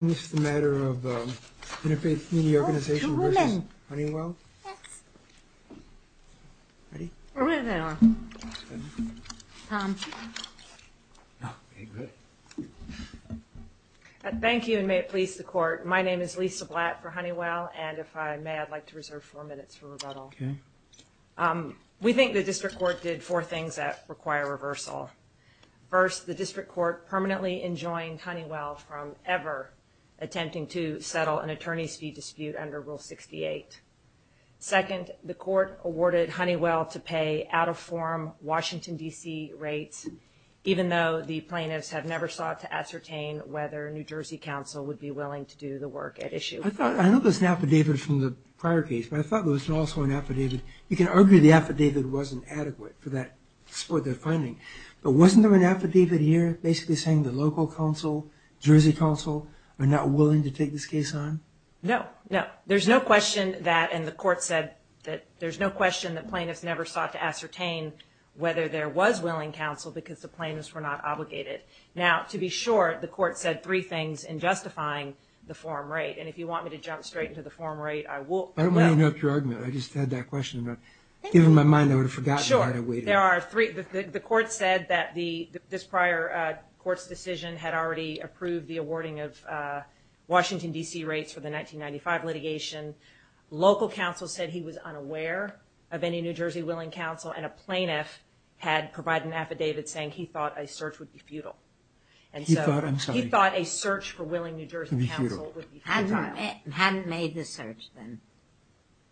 Thank you and may it please the court. My name is Lisa Blatt for Honeywell, and if I may, I'd like to reserve four minutes for rebuttal. We think the district court did four things that require reversal. First, the district court permanently enjoined Honeywell from ever attempting to settle an attorney's fee dispute under Rule 68. Second, the court awarded Honeywell to pay out-of-form Washington, D.C. rates, even though the plaintiffs have never sought to ascertain whether New Jersey counsel would be willing to do the work at issue. I thought, I know there's an affidavit from the prior case, but I thought there was also an affidavit. You can argue the affidavit wasn't adequate for that, for their finding. But wasn't there an affidavit here basically saying the local counsel, Jersey counsel, are not willing to take this case on? No, no. There's no question that, and the court said that there's no question that plaintiffs never sought to ascertain whether there was willing counsel because the plaintiffs were not obligated. Now, to be sure, the court said three things in justifying the form rate, and if you want me to jump straight into the form rate, I will. I don't want to interrupt your argument. I just had that question, and given my mind, I would have forgotten why I waited. Sure. There are three. The court said that this prior court's decision had already approved the awarding of Washington, D.C. rates for the 1995 litigation. Local counsel said he was unaware of any New Jersey willing counsel, and a plaintiff had provided an affidavit saying he thought a search would be futile. He thought, I'm sorry. He thought a search for willing New Jersey counsel would be futile. Hadn't made the search, then.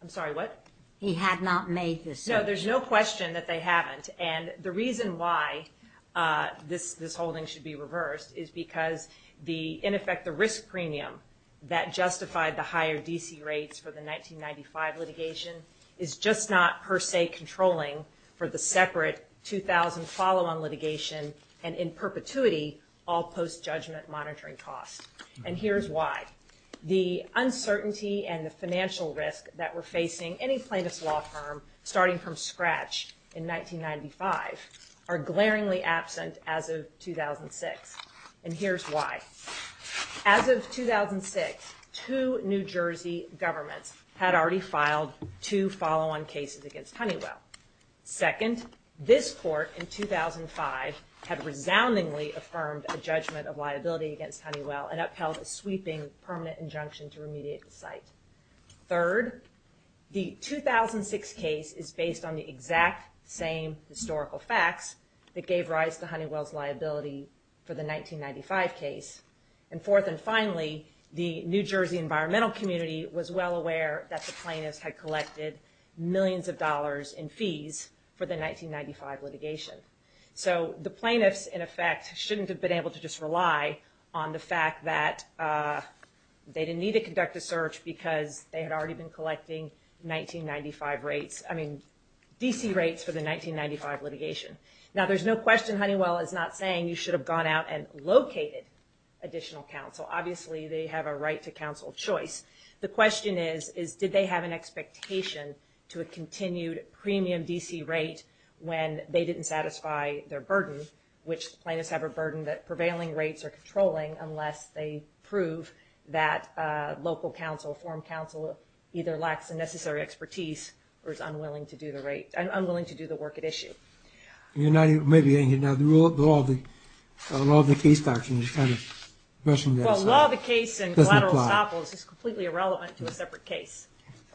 I'm sorry, what? He had not made the search. No, there's no question that they haven't, and the reason why this holding should be reversed is because, in effect, the risk premium that justified the higher D.C. rates for the 1995 litigation is just not, per se, controlling for the separate 2000 follow-on litigation and, in perpetuity, all post-judgment monitoring costs. And here's why. The uncertainty and the financial risk that were facing any plaintiff's law firm, starting from scratch in 1995, are glaringly absent as of 2006. And here's why. As of 2006, two New Jersey governments had already filed two follow-on cases against Honeywell. Second, this court in 2005 had resoundingly affirmed a judgment of liability against Honeywell and upheld a sweeping permanent injunction to remediate the site. Third, the 2006 case is based on the exact same historical facts that gave rise to Honeywell's liability for the 1995 case. And fourth and finally, the New Jersey environmental community was well aware that the plaintiffs had collected millions of dollars in fees for the 1995 litigation. So the plaintiffs, in effect, shouldn't have been able to just rely on the fact that they didn't need to conduct a search because they had already been collecting 1995 rates, I mean, D.C. rates for the 1995 litigation. Now, there's no question Honeywell is not saying you should have gone out and located additional counsel. Obviously, they have a right to counsel choice. The question is, is did they have an expectation to a continued premium D.C. rate when they didn't satisfy their burden, which plaintiffs have a burden that prevailing rates are controlling unless they prove that local counsel, either lacks the necessary expertise or is unwilling to do the right, unwilling to do the work at issue. You're not even, maybe, you know, the law of the case doctrine is kind of brushing that aside. Well, law of the case and collateral estoppels is completely irrelevant to a separate case.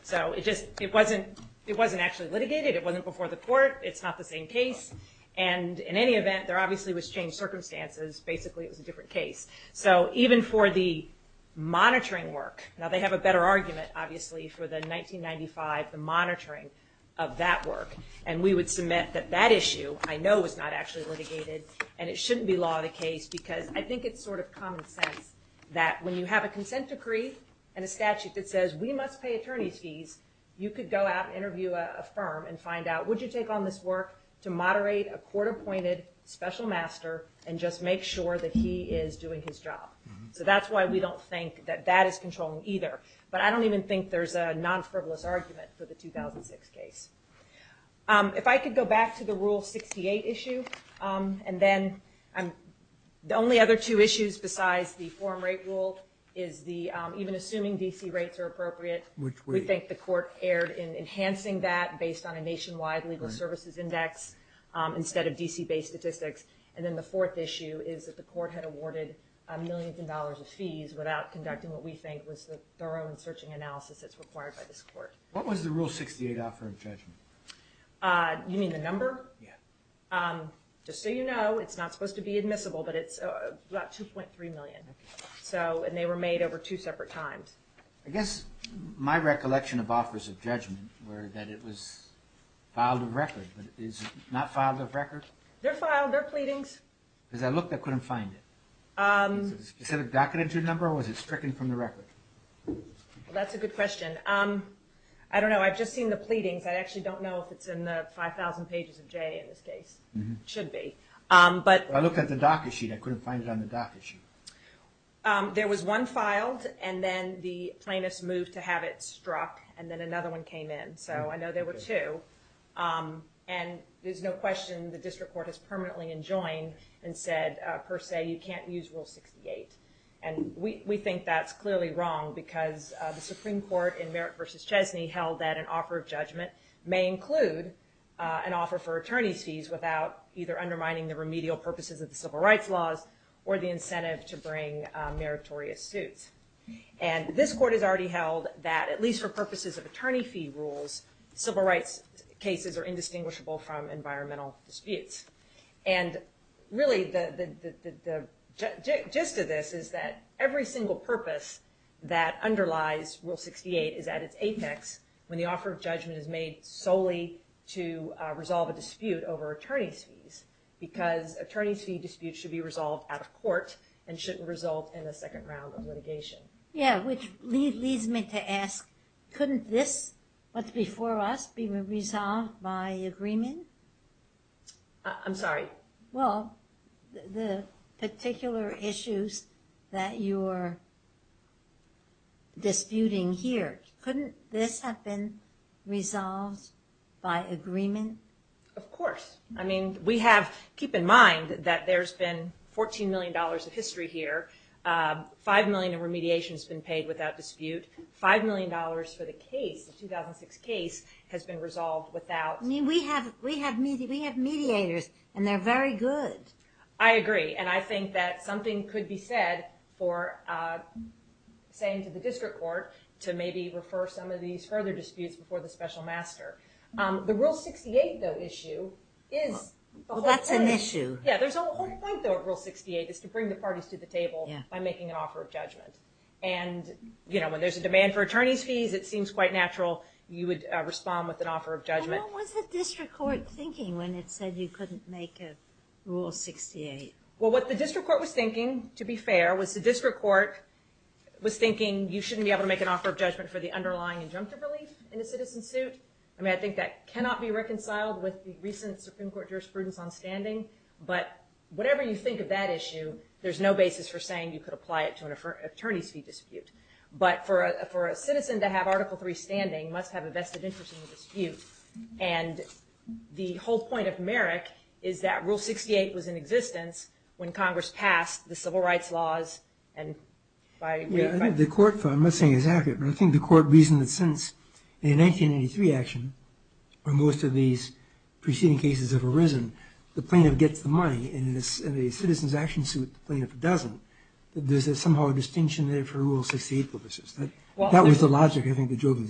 So it just, it wasn't, it wasn't actually litigated. It wasn't before the court. It's not the same case. And in any event, there obviously was changed circumstances. Basically, it was a different case. So even for the monitoring work, now they have a better argument, obviously, for the 1995, the monitoring of that work. And we would submit that that issue, I know, was not actually litigated. And it shouldn't be law of the case because I think it's sort of common sense that when you have a consent decree and a statute that says we must pay attorney's fees, you could go out and interview a firm and find out, would you take on this work to moderate a court-appointed special master and just make sure that he is doing his job? So that's why we don't think that that is controlling either. But I don't even think there's a non-frivolous argument for the 2006 case. If I could go back to the Rule 68 issue, and then the only other two issues besides the form rate rule is the, even assuming DC rates are appropriate, we think the court erred in enhancing that based on a nationwide legal services index instead of DC-based statistics. And then the fourth issue is that the court had awarded millions of dollars of fees without conducting what we think was the thorough and searching analysis that's required by this court. What was the Rule 68 offer of judgment? You mean the number? Yeah. Just so you know, it's not supposed to be admissible, but it's about $2.3 million. And they were made over two separate times. I guess my recollection of offers of judgment were that it was filed of record. Is it not filed of record? They're filed. They're pleadings. Because I looked, I couldn't find it. Is it a specific docketed number, or was it stricken from the record? That's a good question. I don't know. I've just seen the pleadings. I actually don't know if it's in the 5,000 pages of J in this case. It should be. But... I looked at the docket sheet. I couldn't find it on the docket sheet. There was one filed, and then the plaintiffs moved to have it struck, and then another one came in. So I know there were two. And there's no question the district court has permanently enjoined and said, per se, you can't use Rule 68. And we think that's clearly wrong, because the Supreme Court in Merrick v. Chesney held that an offer of judgment may include an offer for attorney's fees without either undermining the remedial incentive to bring meritorious suits. And this court has already held that, at least for purposes of attorney fee rules, civil rights cases are indistinguishable from environmental disputes. And really the gist of this is that every single purpose that underlies Rule 68 is at its apex when the offer of judgment is made solely to resolve a dispute over attorney's fees, because attorney's fee disputes should be resolved at a court and shouldn't result in a second round of litigation. Yeah, which leads me to ask, couldn't this, what's before us, be resolved by agreement? I'm sorry? Well, the particular issues that you're disputing here, couldn't this have been resolved by agreement? Of course. I mean, we have, keep in mind that there's been $14 million of history here, $5 million of remediation has been paid without dispute, $5 million for the case, the 2006 case, has been resolved without. I mean, we have mediators, and they're very good. I agree. And I think that something could be said for saying to the district court to maybe refer some of these further disputes before the special master. The Rule 68, though, issue is a whole point. Well, that's an issue. Yeah, there's a whole point, though, of Rule 68, is to bring the parties to the table by making an offer of judgment. And, you know, when there's a demand for attorney's fees, it seems quite natural you would respond with an offer of judgment. Well, what was the district court thinking when it said you couldn't make a Rule 68? Well, what the district court was thinking, to be fair, was the district court was thinking you shouldn't be able to make an offer of judgment for the underlying injunctive relief in a citizen suit. I mean, I think that cannot be reconciled with the recent Supreme Court jurisprudence on standing. But whatever you think of that issue, there's no basis for saying you could apply it to an attorney's fee dispute. But for a citizen to have Article III standing must have a vested interest in the dispute. And the whole point of Merrick is that Rule 68 was in existence when Congress passed the civil rights laws. I'm not saying it's accurate, but I think the court reasoned that since the 1983 action, when most of these preceding cases have arisen, the plaintiff gets the money, and in a citizen's action suit, the plaintiff doesn't. There's somehow a distinction there for Rule 68 purposes. That was the logic, I think, of the joke. And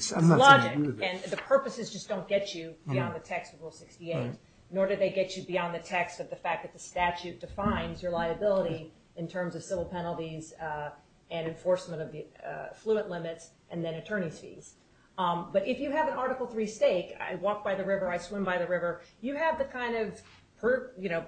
the purposes just don't get you beyond the text of Rule 68, nor do they get you beyond the text of the fact that the statute defines your liability in terms of civil penalties and enforcement of the affluent limits and then attorney's fees. But if you have an Article III stake, I walk by the river, I swim by the river, you have the kind of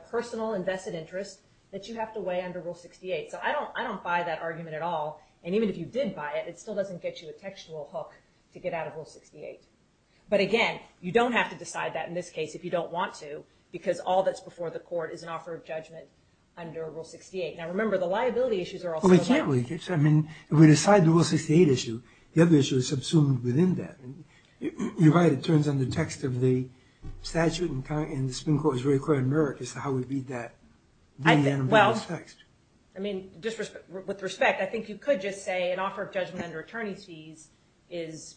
personal and vested interest that you have to weigh under Rule 68. So I don't buy that argument at all. And even if you did buy it, it still doesn't get you a textual hook to get out of Rule 68. But again, you don't have to decide that in this case if you don't want to, because all that's before the court is an offer of judgment under Rule 68. Now, remember, the liability issues are also there. Well, we can't leave it. I mean, if we decide the Rule 68 issue, the other issue is subsumed within that. You're right. It turns on the text of the statute, and the Supreme Court is very clear in Merrick as to how we read that, the animalist text. I mean, with respect, I think you could just say an offer of judgment under attorney's fees is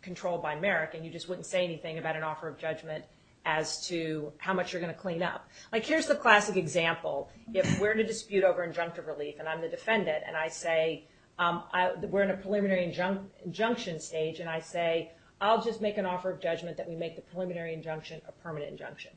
controlled by Merrick, and you just wouldn't say anything about an offer of judgment as to how much you're going to clean up. Like, here's the classic example. If we're in a dispute over injunctive relief, and I'm the defendant, and I say we're in a preliminary injunction stage, and I say I'll just make an offer of judgment that we make the preliminary injunction a permanent injunction.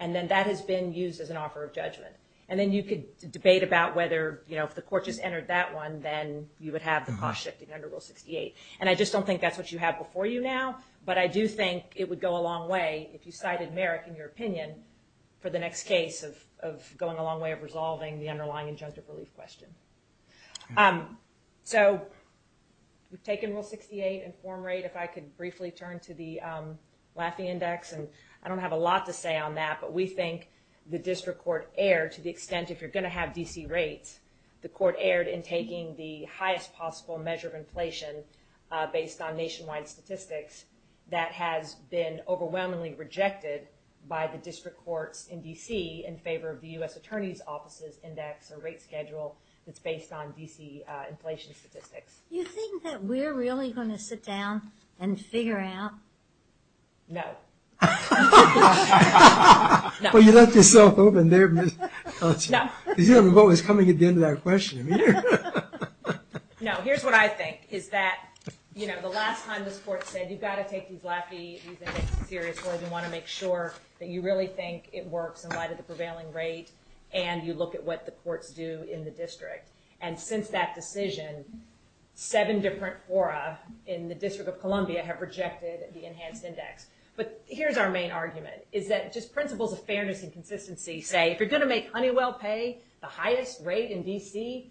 And then that has been used as an offer of judgment. And then you could debate about whether, you know, if the court just entered that one, then you would have the cost shifting under Rule 68. And I just don't think that's what you have before you now, but I do think it would go a long way, if you cited Merrick in your opinion, for the next case of going a long way of resolving the underlying injunctive relief question. So we've taken Rule 68 and form rate. If I could briefly turn to the Laffey Index, and I don't have a lot to say on that, but we think the district court erred to the extent, if you're going to have DC rates, the court erred in taking the highest possible measure of inflation based on nationwide statistics that has been overwhelmingly rejected by the district courts in DC in favor of the U.S. Attorney's Office's index or rate schedule that's based on DC inflation statistics. You think that we're really going to sit down and figure out? No. No. Well, you left yourself open there. No. Because you don't know what was coming at the end of that question. No, here's what I think, is that the last time this court said, you've got to take these Laffey Indexes seriously, you want to make sure that you really think it works in light of the prevailing rate, and you look at what the courts do in the district. And since that decision, seven different fora in the District of Columbia have rejected the enhanced index. But here's our main argument, is that just principles of fairness and consistency say, if you're going to make Honeywell pay the highest rate in DC,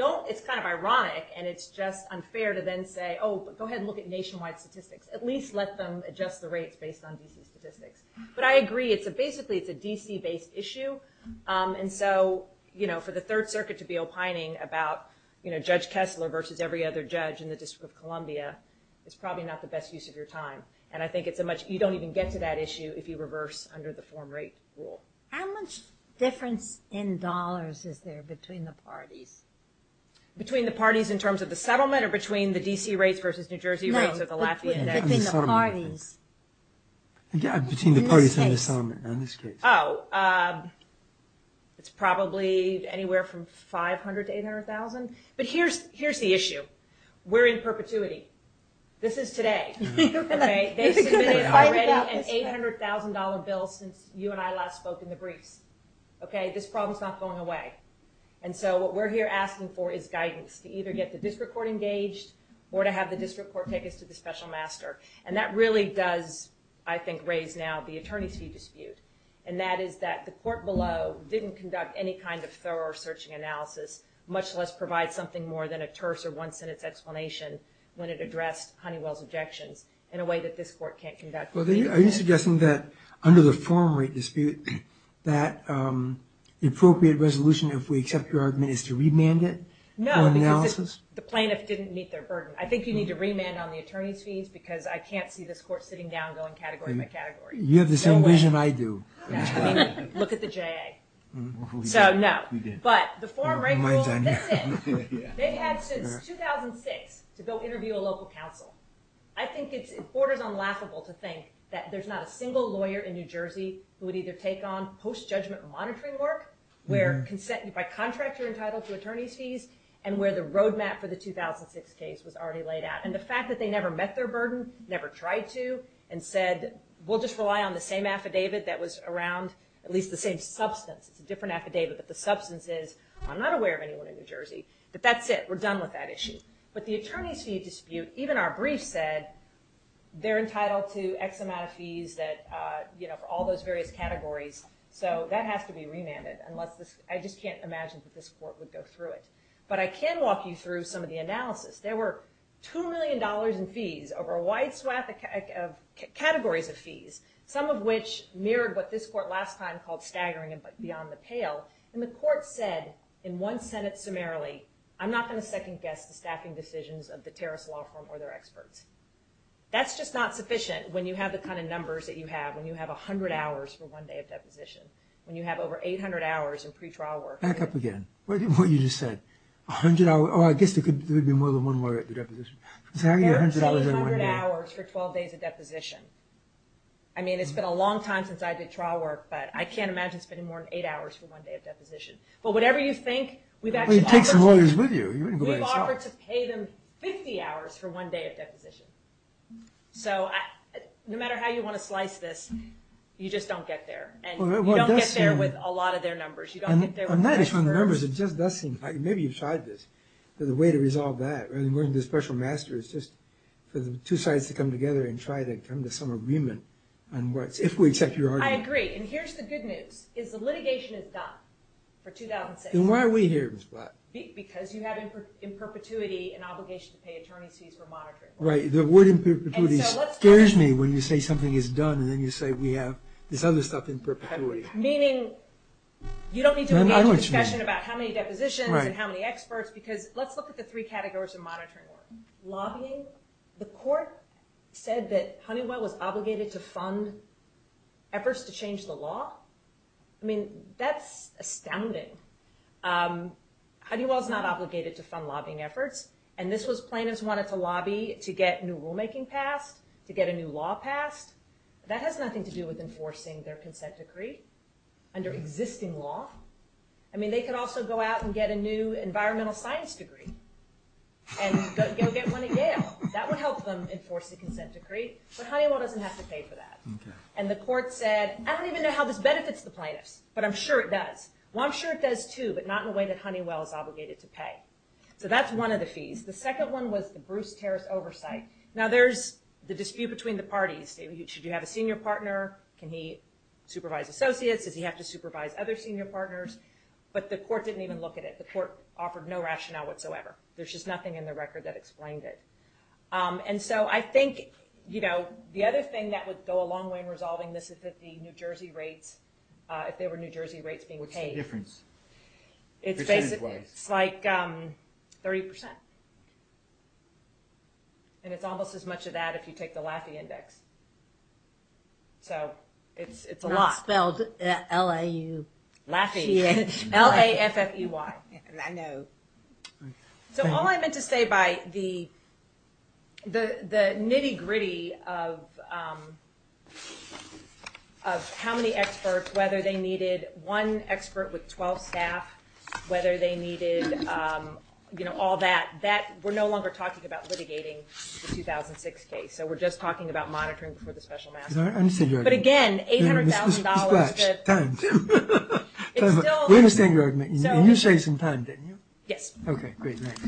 it's kind of ironic, and it's just unfair to then say, oh, go ahead and look at nationwide statistics. At least let them adjust the rates based on DC statistics. But I agree, basically it's a DC-based issue, and so for the Third Circuit to be opining about Judge Kessler versus every other judge in the District of Columbia is probably not the best use of your time. And I think you don't even get to that issue if you reverse under the form rate rule. How much difference in dollars is there between the parties? Between the parties in terms of the settlement or between the DC rates versus New Jersey rates or the Lafayette index? Between the parties. In this case. Oh, it's probably anywhere from 500 to 800,000. But here's the issue. We're in perpetuity. This is today. They've submitted already an $800,000 bill since you and I last spoke in the briefs. This problem's not going away. And so what we're here asking for is guidance to either get the district court engaged or to have the district court take us to the special master. And that really does, I think, raise now the attorney's fee dispute. And that is that the court below didn't conduct any kind of thorough searching analysis, much less provide something more than a terse when it addressed Honeywell's objections in a way that this court can't conduct. Are you suggesting that under the forum rate dispute that the appropriate resolution, if we accept your argument, is to remand it for analysis? No, because the plaintiff didn't meet their burden. I think you need to remand on the attorney's fees because I can't see this court sitting down going category by category. You have the same vision I do. Look at the JA. So no. But the forum rate rule, that's it. They've had since 2006 to go interview a local council. I think it borders on laughable to think that there's not a single lawyer in New Jersey who would either take on post-judgment monitoring work where by contract you're entitled to attorney's fees and where the roadmap for the 2006 case was already laid out. And the fact that they never met their burden, never tried to, and said, we'll just rely on the same affidavit that was around at least the same substance. It's a different affidavit, but the substance is, I'm not aware of anyone in New Jersey. But that's it. We're done with that issue. But the attorney's fee dispute, even our brief said, they're entitled to X amount of fees for all those various categories. So that has to be remanded. I just can't imagine that this court would go through it. But I can walk you through some of the analysis. There were $2 million in fees over a wide swath of categories of fees, some of which mirrored what this court last time called staggering and beyond the pale. And the court said in one Senate summarily, I'm not going to second guess the staffing decisions of the Terrace Law Firm or their experts. That's just not sufficient when you have the kind of numbers that you have, when you have 100 hours for one day of deposition, when you have over 800 hours in pretrial work. Back up again. What you just said. 100 hours, or I guess there would be more than one lawyer at the deposition. There are 800 hours for 12 days of deposition. I mean, it's been a long time since I did trial work, but I can't imagine spending more than eight hours for one day of deposition. But whatever you think, we've actually offered to pay them 50 hours for one day of deposition. So no matter how you want to slice this, you just don't get there. And you don't get there with a lot of their numbers. You don't get there with the Terrace Firm. And that is one of the numbers. It just does seem like maybe you've tried this. There's a way to resolve that. And we're the special masters just for the two sides to come together and try to come to some agreement on what's, if we accept your argument. I agree. And here's the good news is the litigation is done for 2006. Then why are we here, Ms. Black? Because you have in perpetuity an obligation to pay attorney's fees for monitoring work. Right. The word in perpetuity scares me when you say something is done and then you say we have this other stuff in perpetuity. Meaning you don't need to engage in discussion about how many depositions and how many experts because let's look at the three categories of monitoring work. Lobbying. The court said that Honeywell was obligated to fund efforts to change the law. I mean, that's astounding. Honeywell's not obligated to fund lobbying efforts. And this was plaintiffs wanted to lobby to get new rulemaking passed, to get a new law passed. That has nothing to do with enforcing their consent decree under existing law. I mean, they could also go out and get a new environmental science degree and go get one at Yale. That would help them enforce the consent decree. But Honeywell doesn't have to pay for that. And the court said, I don't even know how this benefits the plaintiffs, but I'm sure it does. Well, I'm sure it does too, but not in a way that Honeywell is obligated to pay. So that's one of the fees. The second one was the Bruce Terrace oversight. Now there's the dispute between the parties. Should you have a senior partner? Can he supervise associates? Does he have to supervise other senior partners? But the court didn't even look at it. The court offered no rationale whatsoever. There's just nothing in the record that explained it. And so I think, you know, the other thing that would go a long way in resolving this is that the New Jersey rates, if there were New Jersey rates being paid... What's the difference? It's like 30%. And it's almost as much of that if you take the Laffey Index. So it's a lot. Not spelled L-A-F-F-E-Y. Laffey. L-A-F-F-E-Y. I know. So all I meant to say by the nitty gritty of how many experts, whether they needed one expert with 12 staff, whether they needed, you know, all that, that we're no longer talking about litigating the 2006 case. So we're just talking about monitoring for the special master. But again, $800,000... Time. We understand your argument. You say some time, didn't you? Yes. Okay, great. Thanks.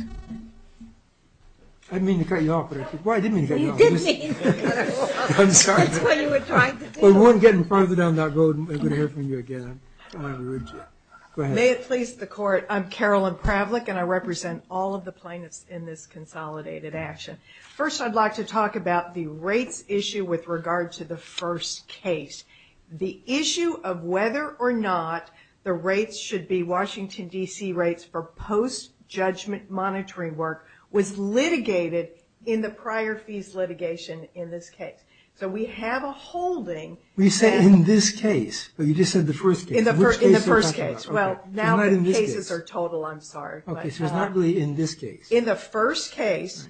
I didn't mean to cut you off, but... You did mean to cut her off. I'm sorry. That's what you were trying to do. If we weren't getting farther down that road, I would have heard from you again. Go ahead. May it please the Court, I'm Carolyn Pravlick, and I represent all of the plaintiffs in this consolidated action. First I'd like to talk about the rates issue with regard to the first case. The issue of whether or not the rates should be Washington, D.C. rates for post-judgment monitoring work was litigated in the prior fees litigation in this case. So we have a holding... You say in this case, but you just said the first case. In the first case. Well, now the cases are total, I'm sorry. Okay, so it's not really in this case. In the first case,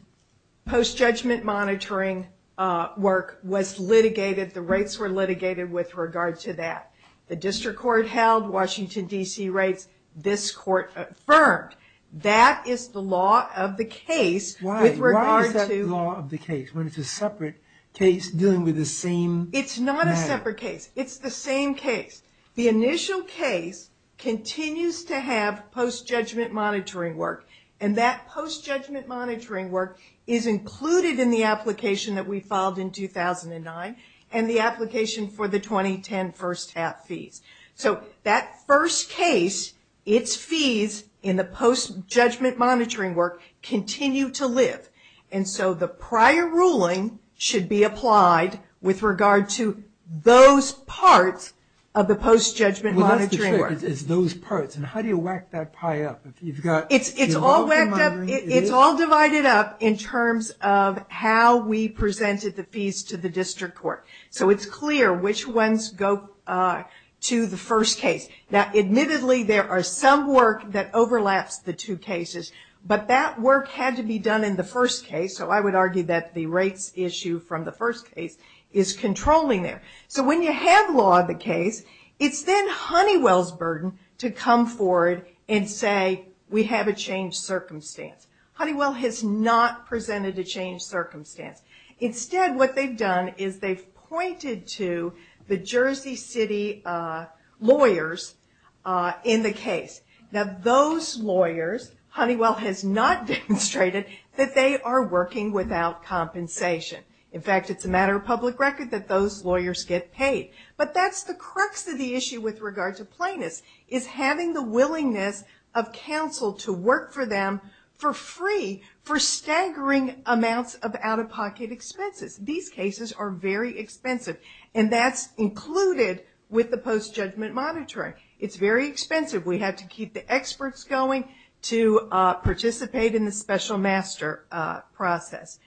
post-judgment monitoring work was litigated. The rates were litigated with regard to that. The district court held Washington, D.C. rates. This court affirmed. That is the law of the case with regard to... Why is that the law of the case? When it's a separate case dealing with the same matter. It's not a separate case. It's the same case. The initial case continues to have post-judgment monitoring work, and that post-judgment monitoring work is included in the application that we filed in 2009 and the application for the 2010 first half fees. So that first case, its fees in the post-judgment monitoring work continue to live. And so the prior ruling should be applied with regard to those parts of the post-judgment monitoring work. Well, that's the trick, is those parts. And how do you whack that pie up? It's all divided up in terms of how we presented the fees to the district court. So it's clear which ones go to the first case. Now, admittedly, there are some work that overlaps the two cases, but that work had to be done in the first case. So I would argue that the rates issue from the first case is controlling there. So when you have law of the case, it's then Honeywell's burden to come forward and say, we have a changed circumstance. Honeywell has not presented a changed circumstance. Instead, what they've done is they've pointed to the Jersey City lawyers in the case. Now, those lawyers, Honeywell has not demonstrated that they are working without compensation. In fact, it's a matter of public record that those lawyers get paid. But that's the crux of the issue with regard to plaintiffs, is having the willingness of counsel to work for them for free for staggering amounts of out-of-pocket expenses. These cases are very expensive, and that's included with the post-judgment monitoring. It's very expensive. We have to keep the experts going to participate in the special master process.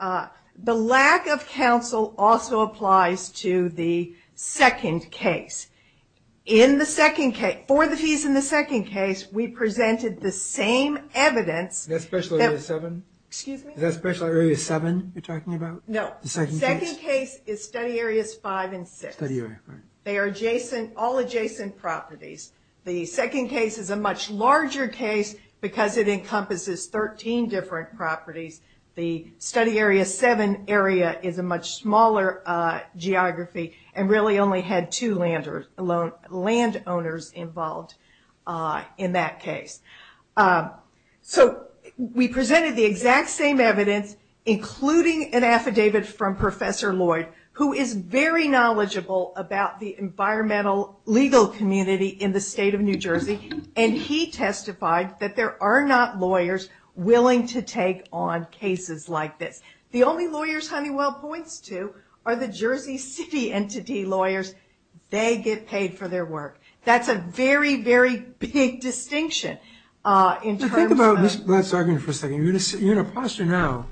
The lack of counsel also applies to the second case. For the fees in the second case, we presented the same evidence. Is that Special Area 7 you're talking about? No. The second case is Study Areas 5 and 6. They are all adjacent properties. The second case is a much larger case because it encompasses 13 different properties. The Study Area 7 area is a much smaller geography and really only had two landowners involved in that case. So we presented the exact same evidence, including an affidavit from Professor Lloyd, who is very knowledgeable about the environmental legal community in the state of New Jersey, and he testified that there are not lawyers willing to take on cases like this. The only lawyers Honeywell points to are the Jersey City entity lawyers. They get paid for their work. That's a very, very big distinction. Think about this. Let's argue for a second. You're in a posture now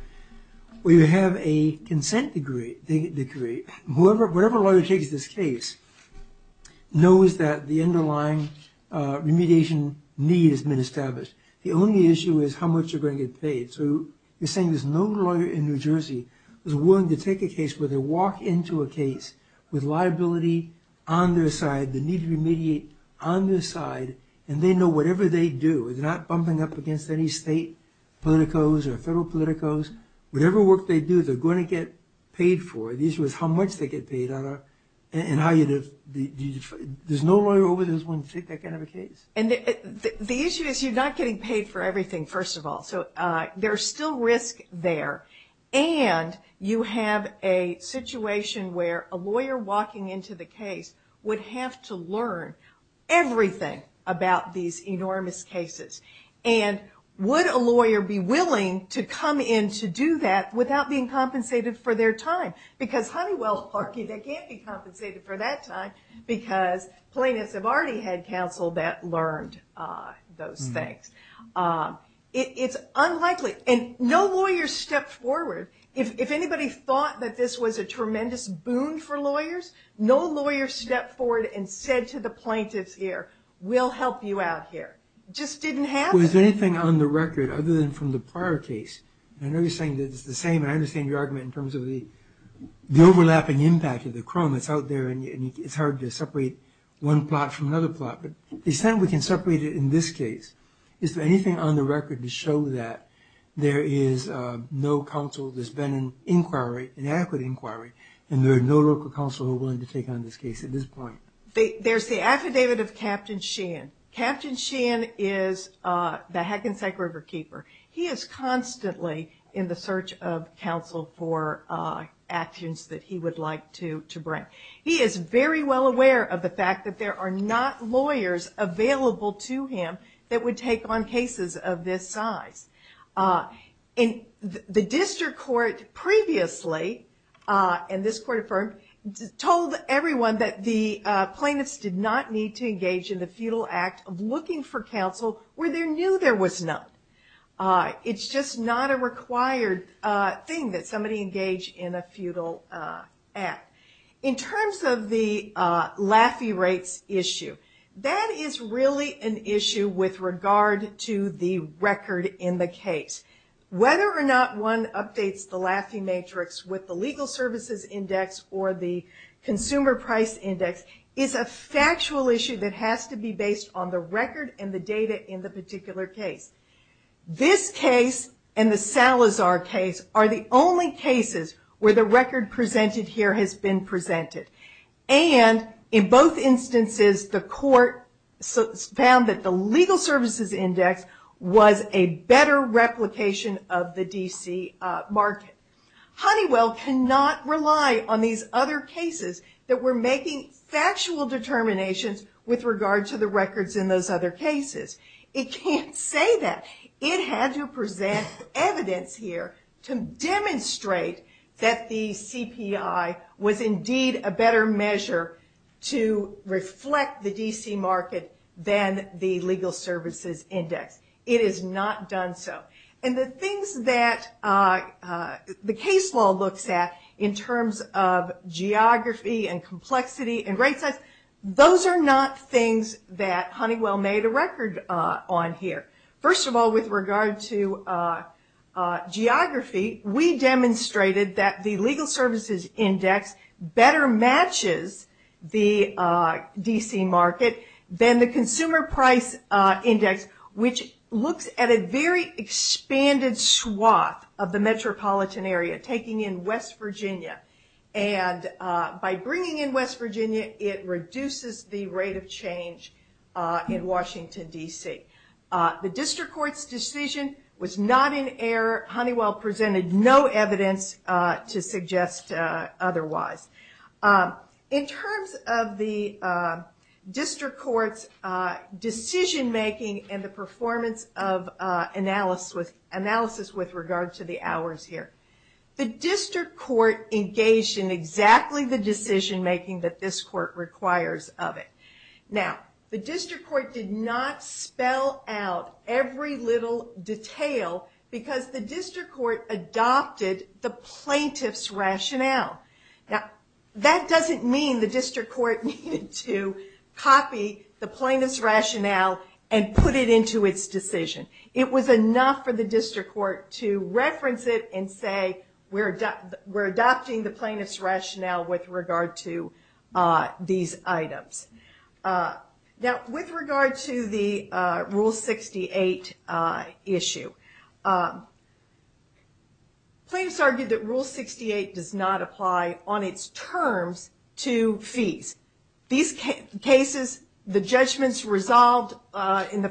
where you have a consent decree. Whatever lawyer takes this case knows that the underlying remediation need has been established. The only issue is how much you're going to get paid. So you're saying there's no lawyer in New Jersey who's willing to take a case where they walk into a case with liability on their side, the need to remediate on their side, and they know whatever they do. They're not bumping up against any state politicos or federal politicos. Whatever work they do, they're going to get paid for it. The issue is how much they get paid. There's no lawyer over there who's willing to take that kind of a case. The issue is you're not getting paid for everything, first of all. So there's still risk there, and you have a situation where a lawyer walking into the case would have to learn everything about these enormous cases. Would a lawyer be willing to come in to do that without being compensated for their time? Honeywell argued they can't be compensated for that time because plaintiffs have already had counsel that learned those things. It's unlikely. No lawyer stepped forward. If anybody thought that this was a tremendous boon for lawyers, no lawyer stepped forward and said to the plaintiffs here, we'll help you out here. It just didn't happen. Is there anything on the record other than from the prior case? I know you're saying that it's the same, and I understand your argument in terms of the overlapping impact of the crime that's out there, and it's hard to separate one plot from another plot, but the extent we can separate it in this case, is there anything on the record to show that there is no counsel, there's been an inquiry, an adequate inquiry, and there's no local counsel willing to take on this case at this point? There's the affidavit of Captain Sheehan. Captain Sheehan is the Hackensack River keeper. He is constantly in the search of counsel for actions that he would like to bring. He is very well aware of the fact that there are not lawyers available to him that would take on cases of this size. The district court previously, and this court affirmed, told everyone that the plaintiffs did not need to engage in the feudal act of looking for counsel where they knew there was none. It's just not a required thing that somebody engage in a feudal act. In terms of the Laffey rates issue, that is really an issue with regard to the record in the case. Whether or not one updates the Laffey matrix with the legal services index or the consumer price index is a factual issue that has to be based on the record and the data in the particular case. This case and the Salazar case are the only cases where the record presented here has been presented. In both instances, the court found that the legal services index was a better replication of the D.C. market. Honeywell cannot rely on these other cases that were making factual determinations with regard to the records in those other cases. It can't say that. It had to present evidence here to demonstrate that the CPI was indeed a better measure to reflect the D.C. market than the legal services index. It has not done so. The things that the case law looks at in terms of geography and complexity and rate sets, those are not things that Honeywell made a record on here. First of all, with regard to geography, we demonstrated that the legal services index better matches the D.C. market than the consumer price index, which looks at a very expanded swath of the metropolitan area, taking in West Virginia. By bringing in West Virginia, it reduces the rate of change in Washington, D.C. The district court's decision was not in error. Honeywell presented no evidence to suggest otherwise. In terms of the district court's decision-making and the performance of analysis with regard to the hours here, the district court engaged in exactly the decision-making that this court requires of it. Now, the district court did not spell out every little detail because the district court adopted the plaintiff's rationale. That doesn't mean the district court needed to copy the plaintiff's rationale and put it into its decision. It was enough for the district court to reference it and say, we're adopting the plaintiff's rationale with regard to these items. Now, with regard to the Rule 68 issue, plaintiffs argued that Rule 68 does not apply on its terms to fees. In the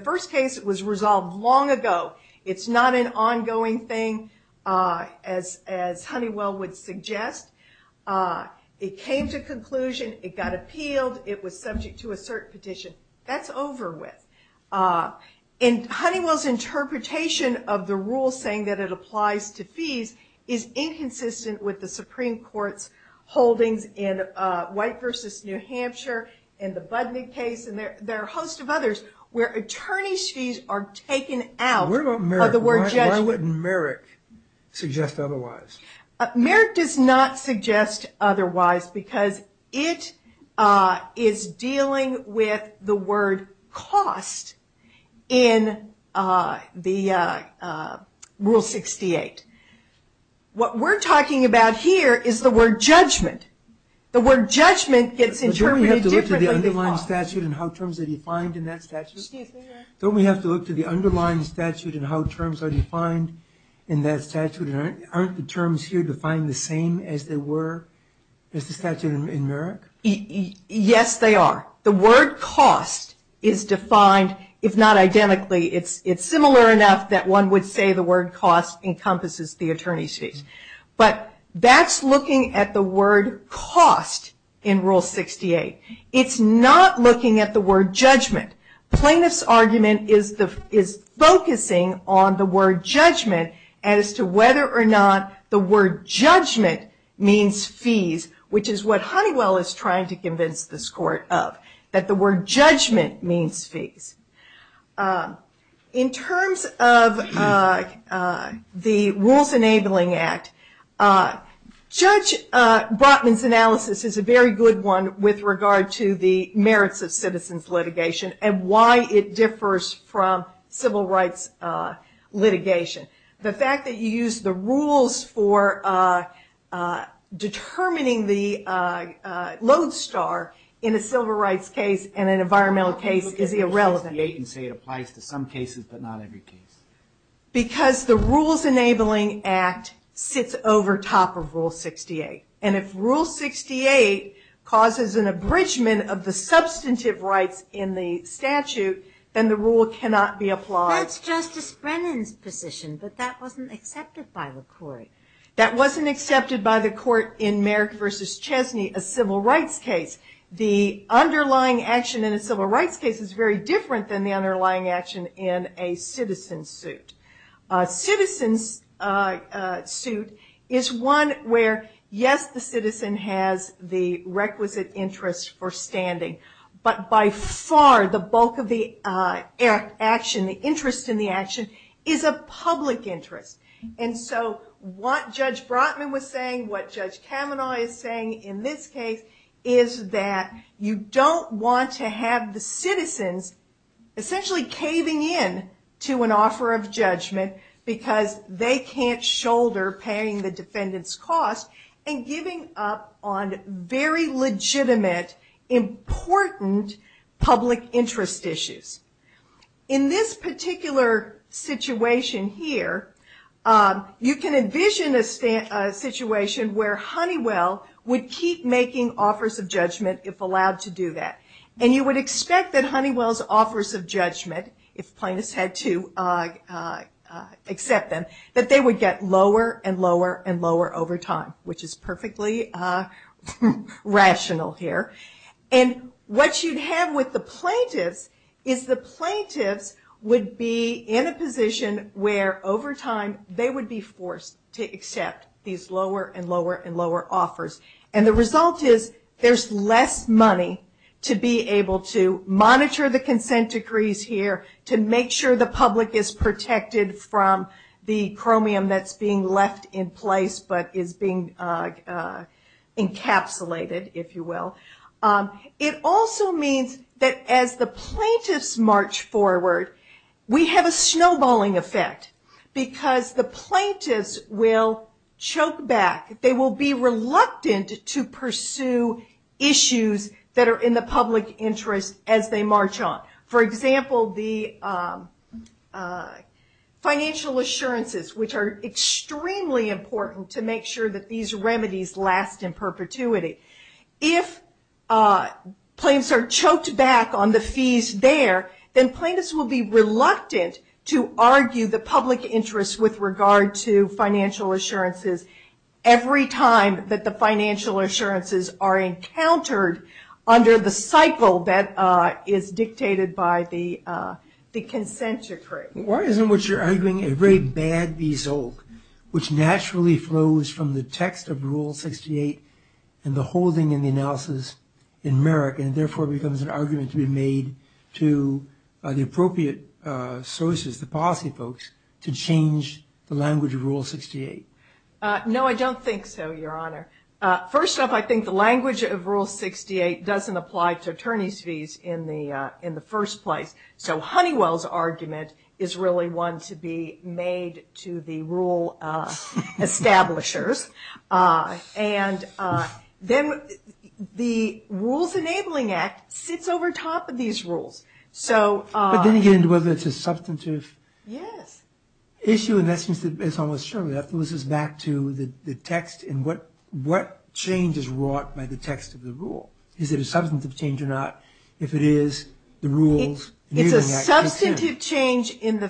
first case, it was resolved long ago. It's not an ongoing thing, as Honeywell would suggest. It came to conclusion, it got appealed, it was subject to a cert petition. That's over with. And Honeywell's interpretation of the rule saying that it applies to fees is inconsistent with the Supreme Court's holdings in White v. New Hampshire and the Budnick case and there are a host of others where attorney's fees are taken out of the word judgment. Why wouldn't Merrick suggest otherwise? Merrick does not suggest otherwise because it is dealing with the word cost in the Rule 68. What we're talking about here is the word judgment. The word judgment gets interpreted differently than cost. Don't we have to look to the underlying statute and how terms are defined in that statute? Don't we have to look to the underlying statute and how terms are defined in that statute and aren't the terms here defined the same as they were in the statute in Merrick? Yes, they are. The word cost is defined, if not identically, it's similar enough that one would say the word cost encompasses the attorney's fees. But that's looking at the word cost in Rule 68. It's not looking at the word judgment. Plaintiff's argument is focusing on the word judgment as to whether or not the word judgment means fees, which is what Honeywell is trying to convince this court of, that the word judgment means fees. In terms of the Rules Enabling Act, Judge Brotman's analysis is a very good one with regard to the merits of citizens litigation and why it differs from civil rights litigation. The fact that you use the rules for determining the load star in a civil rights case and an environmental case is irrelevant. Because the Rules Enabling Act sits over top of Rule 68. And if Rule 68 causes an abridgment of the substantive rights in the statute, then the rule cannot be applied. That's Justice Brennan's position, but that wasn't accepted by the court. That wasn't accepted by the court in Merrick v. Chesney, a civil rights case. The underlying action in a civil rights case is very different than the underlying action in a citizen suit. A citizen suit is one where, yes, the citizen has the requisite interest for standing, but by far the bulk of the action, the interest in the action, is a public interest. And so what Judge Brotman was saying, what Judge Kavanaugh is saying in this case, is that you don't want to have the citizens essentially caving in to an offer of judgment because they can't shoulder paying the defendant's cost and giving up on very legitimate, important public interest issues. In this particular situation here, you can envision a situation where Honeywell would keep making offers of judgment if allowed to do that. And you would expect that Honeywell's offers of judgment, if plaintiffs had to accept them, that they would get lower and lower and lower over time, which is perfectly rational here. And what you'd have with the plaintiffs is the plaintiffs would be in a position where over time they would be forced to accept these lower and lower and lower offers. And the result is there's less money to be able to monitor the consent decrees here, to make sure the public is protected from the chromium that's being left in place, but is being encapsulated, if you will. It also means that as the plaintiffs march forward, we have a snowballing effect because the plaintiffs will choke back. They will be reluctant to pursue issues that are in the public interest as they march on. For example, the financial assurances, which are extremely important to make sure that these remedies last in perpetuity. If plaintiffs are choked back on the fees there, then plaintiffs will be reluctant to argue the public interest with regard to financial assurances every time that the financial assurances are encountered under the cycle that is dictated by the consent decree. Why isn't what you're arguing a very bad bezolk, which naturally flows from the text of Rule 68 and the holding and the analysis in Merrick and therefore becomes an argument to be made to the appropriate sources, the policy folks, to change the language of Rule 68? No, I don't think so, Your Honor. First off, I think the language of Rule 68 doesn't apply to attorney's fees in the first place. So Honeywell's argument is really one to be made to the rule establishers. And then the Rules Enabling Act sits over top of these rules. But then again, whether it's a substantive issue in that sense is almost certain. So that moves us back to the text and what change is wrought by the text of the rule. Is it a substantive change or not? If it is, the Rules Enabling Act. It's a substantive change in the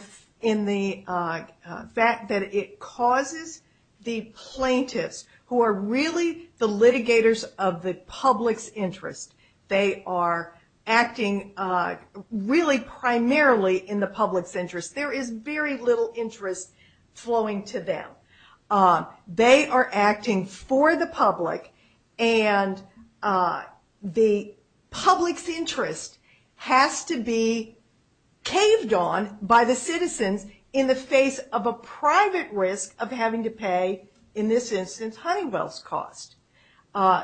fact that it causes the plaintiffs, who are really the litigators of the public's interest, they are acting really primarily in the public's interest. There is very little interest flowing to them. They are acting for the public and the public's interest has to be caved on by the citizens in the face of a private risk of having to pay, in this instance, Honeywell's cost.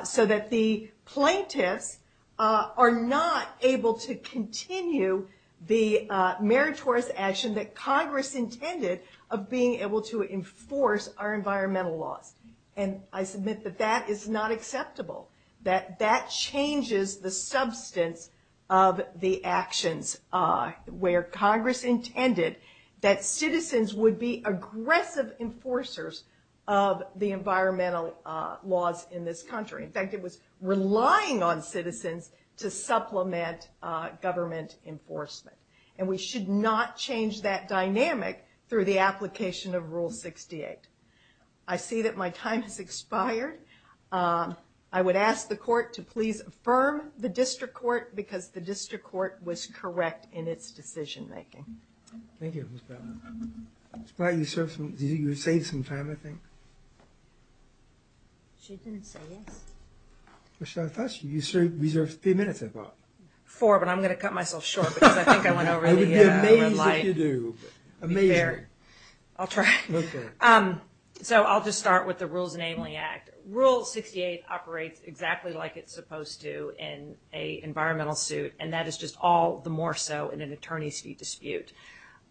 So that the plaintiffs are not able to continue the meritorious action that Congress intended of being able to enforce our environmental laws. And I submit that that is not acceptable. That that changes the substance of the actions where Congress intended that citizens would be aggressive enforcers of the environmental laws in this country. In fact, it was relying on citizens to supplement government enforcement. And we should not change that dynamic through the application of Rule 68. I see that my time has expired. I would ask the court to please affirm the district court because the district court was correct in its decision making. Thank you, Ms. Powell. Ms. Powell, you saved some time, I think. She didn't say yes. I thought you reserved a few minutes, I thought. Four, but I'm going to cut myself short because I think I went over the red light. It would be amazing if you do. I'll try. So I'll just start with the Rules Enabling Act. Rule 68 operates exactly like it's supposed to in an environmental suit, and that is just all the more so in an attorney's fee dispute.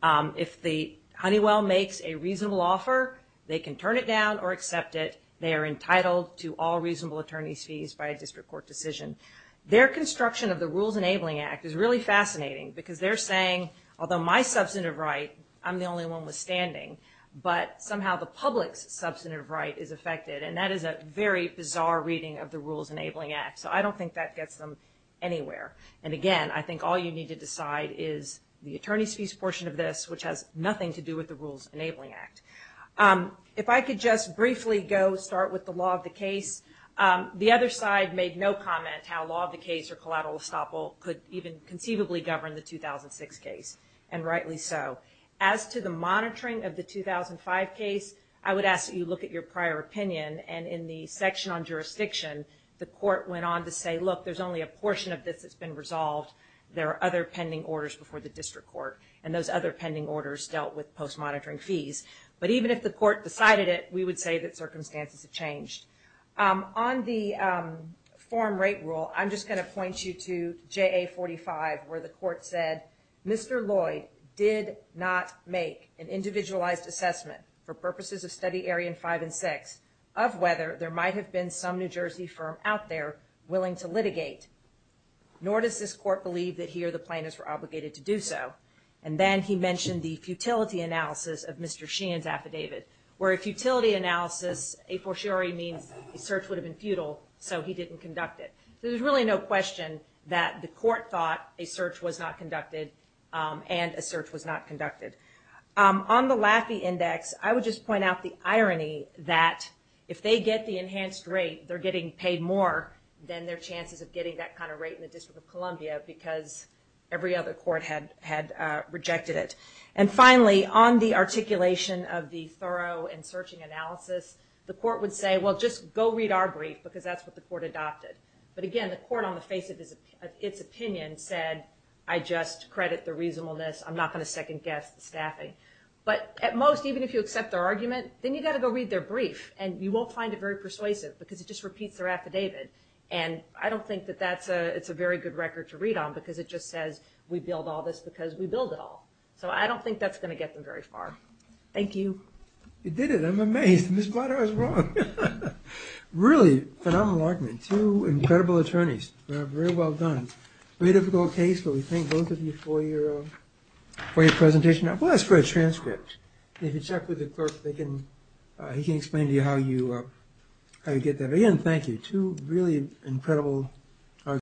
If the Honeywell makes a reasonable offer, they can turn it down or accept it. They are entitled to all reasonable attorney's fees by a district court decision. Their construction of the Rules Enabling Act is really fascinating because they're saying, although my substantive right, I'm the only one withstanding, but somehow the public's substantive right is affected. And that is a very bizarre reading of the Rules Enabling Act. So I don't think that gets them anywhere. And again, I think all you need to decide is the attorney's fees portion of this, which has nothing to do with the Rules Enabling Act. If I could just briefly go start with the law of the case. The other side made no comment how law of the case or collateral estoppel could even conceivably govern the 2006 case, and rightly so. As to the monitoring of the 2005 case, I would ask that you look at your prior opinion, and in the section on jurisdiction, the court went on to say, look, there's only a portion of this that's been resolved. There are other pending orders before the district court, and those other pending orders dealt with post-monitoring fees. But even if the court decided it, we would say that circumstances have changed. On the form rate rule, I'm just going to point you to JA 45, where the court said, Mr. Lloyd did not make an individualized assessment for purposes of Study Area 5 and 6 of whether there might have been some New Jersey firm out there willing to litigate, nor does this court believe that he or the plaintiffs were obligated to do so. And then he mentioned the futility analysis of Mr. Sheehan's affidavit, where a futility analysis, a fortiori means a search would have been futile, so he didn't conduct it. So there's really no question that the court thought a search was not conducted, and a search was not conducted. On the Laffey Index, I would just point out the irony that if they get the enhanced rate, they're getting paid more than their chances of getting that kind of rate in the District of Columbia, because every other court had rejected it. And finally, on the articulation of the thorough and searching analysis, the court would say, well, just go read our brief, because that's what the court adopted. But again, the court on the face of its opinion said, I just credit the reasonableness, I'm not going to second-guess the staffing. But at most, even if you accept their argument, then you've got to go read their brief, and you won't find it very persuasive, because it just repeats their affidavit. And I don't think that it's a very good record to read on, because it just says, we build all this because we build it all. So I don't think that's going to get them very far. Thank you. You did it. I'm amazed. Ms. Blatter is wrong. Really, phenomenal argument. Two incredible attorneys. Very well done. Very difficult case, but we thank both of you for your presentation. Well, that's for a transcript. If you check with the clerk, he can explain to you how you get that. Again, thank you. Two really incredible attorneys.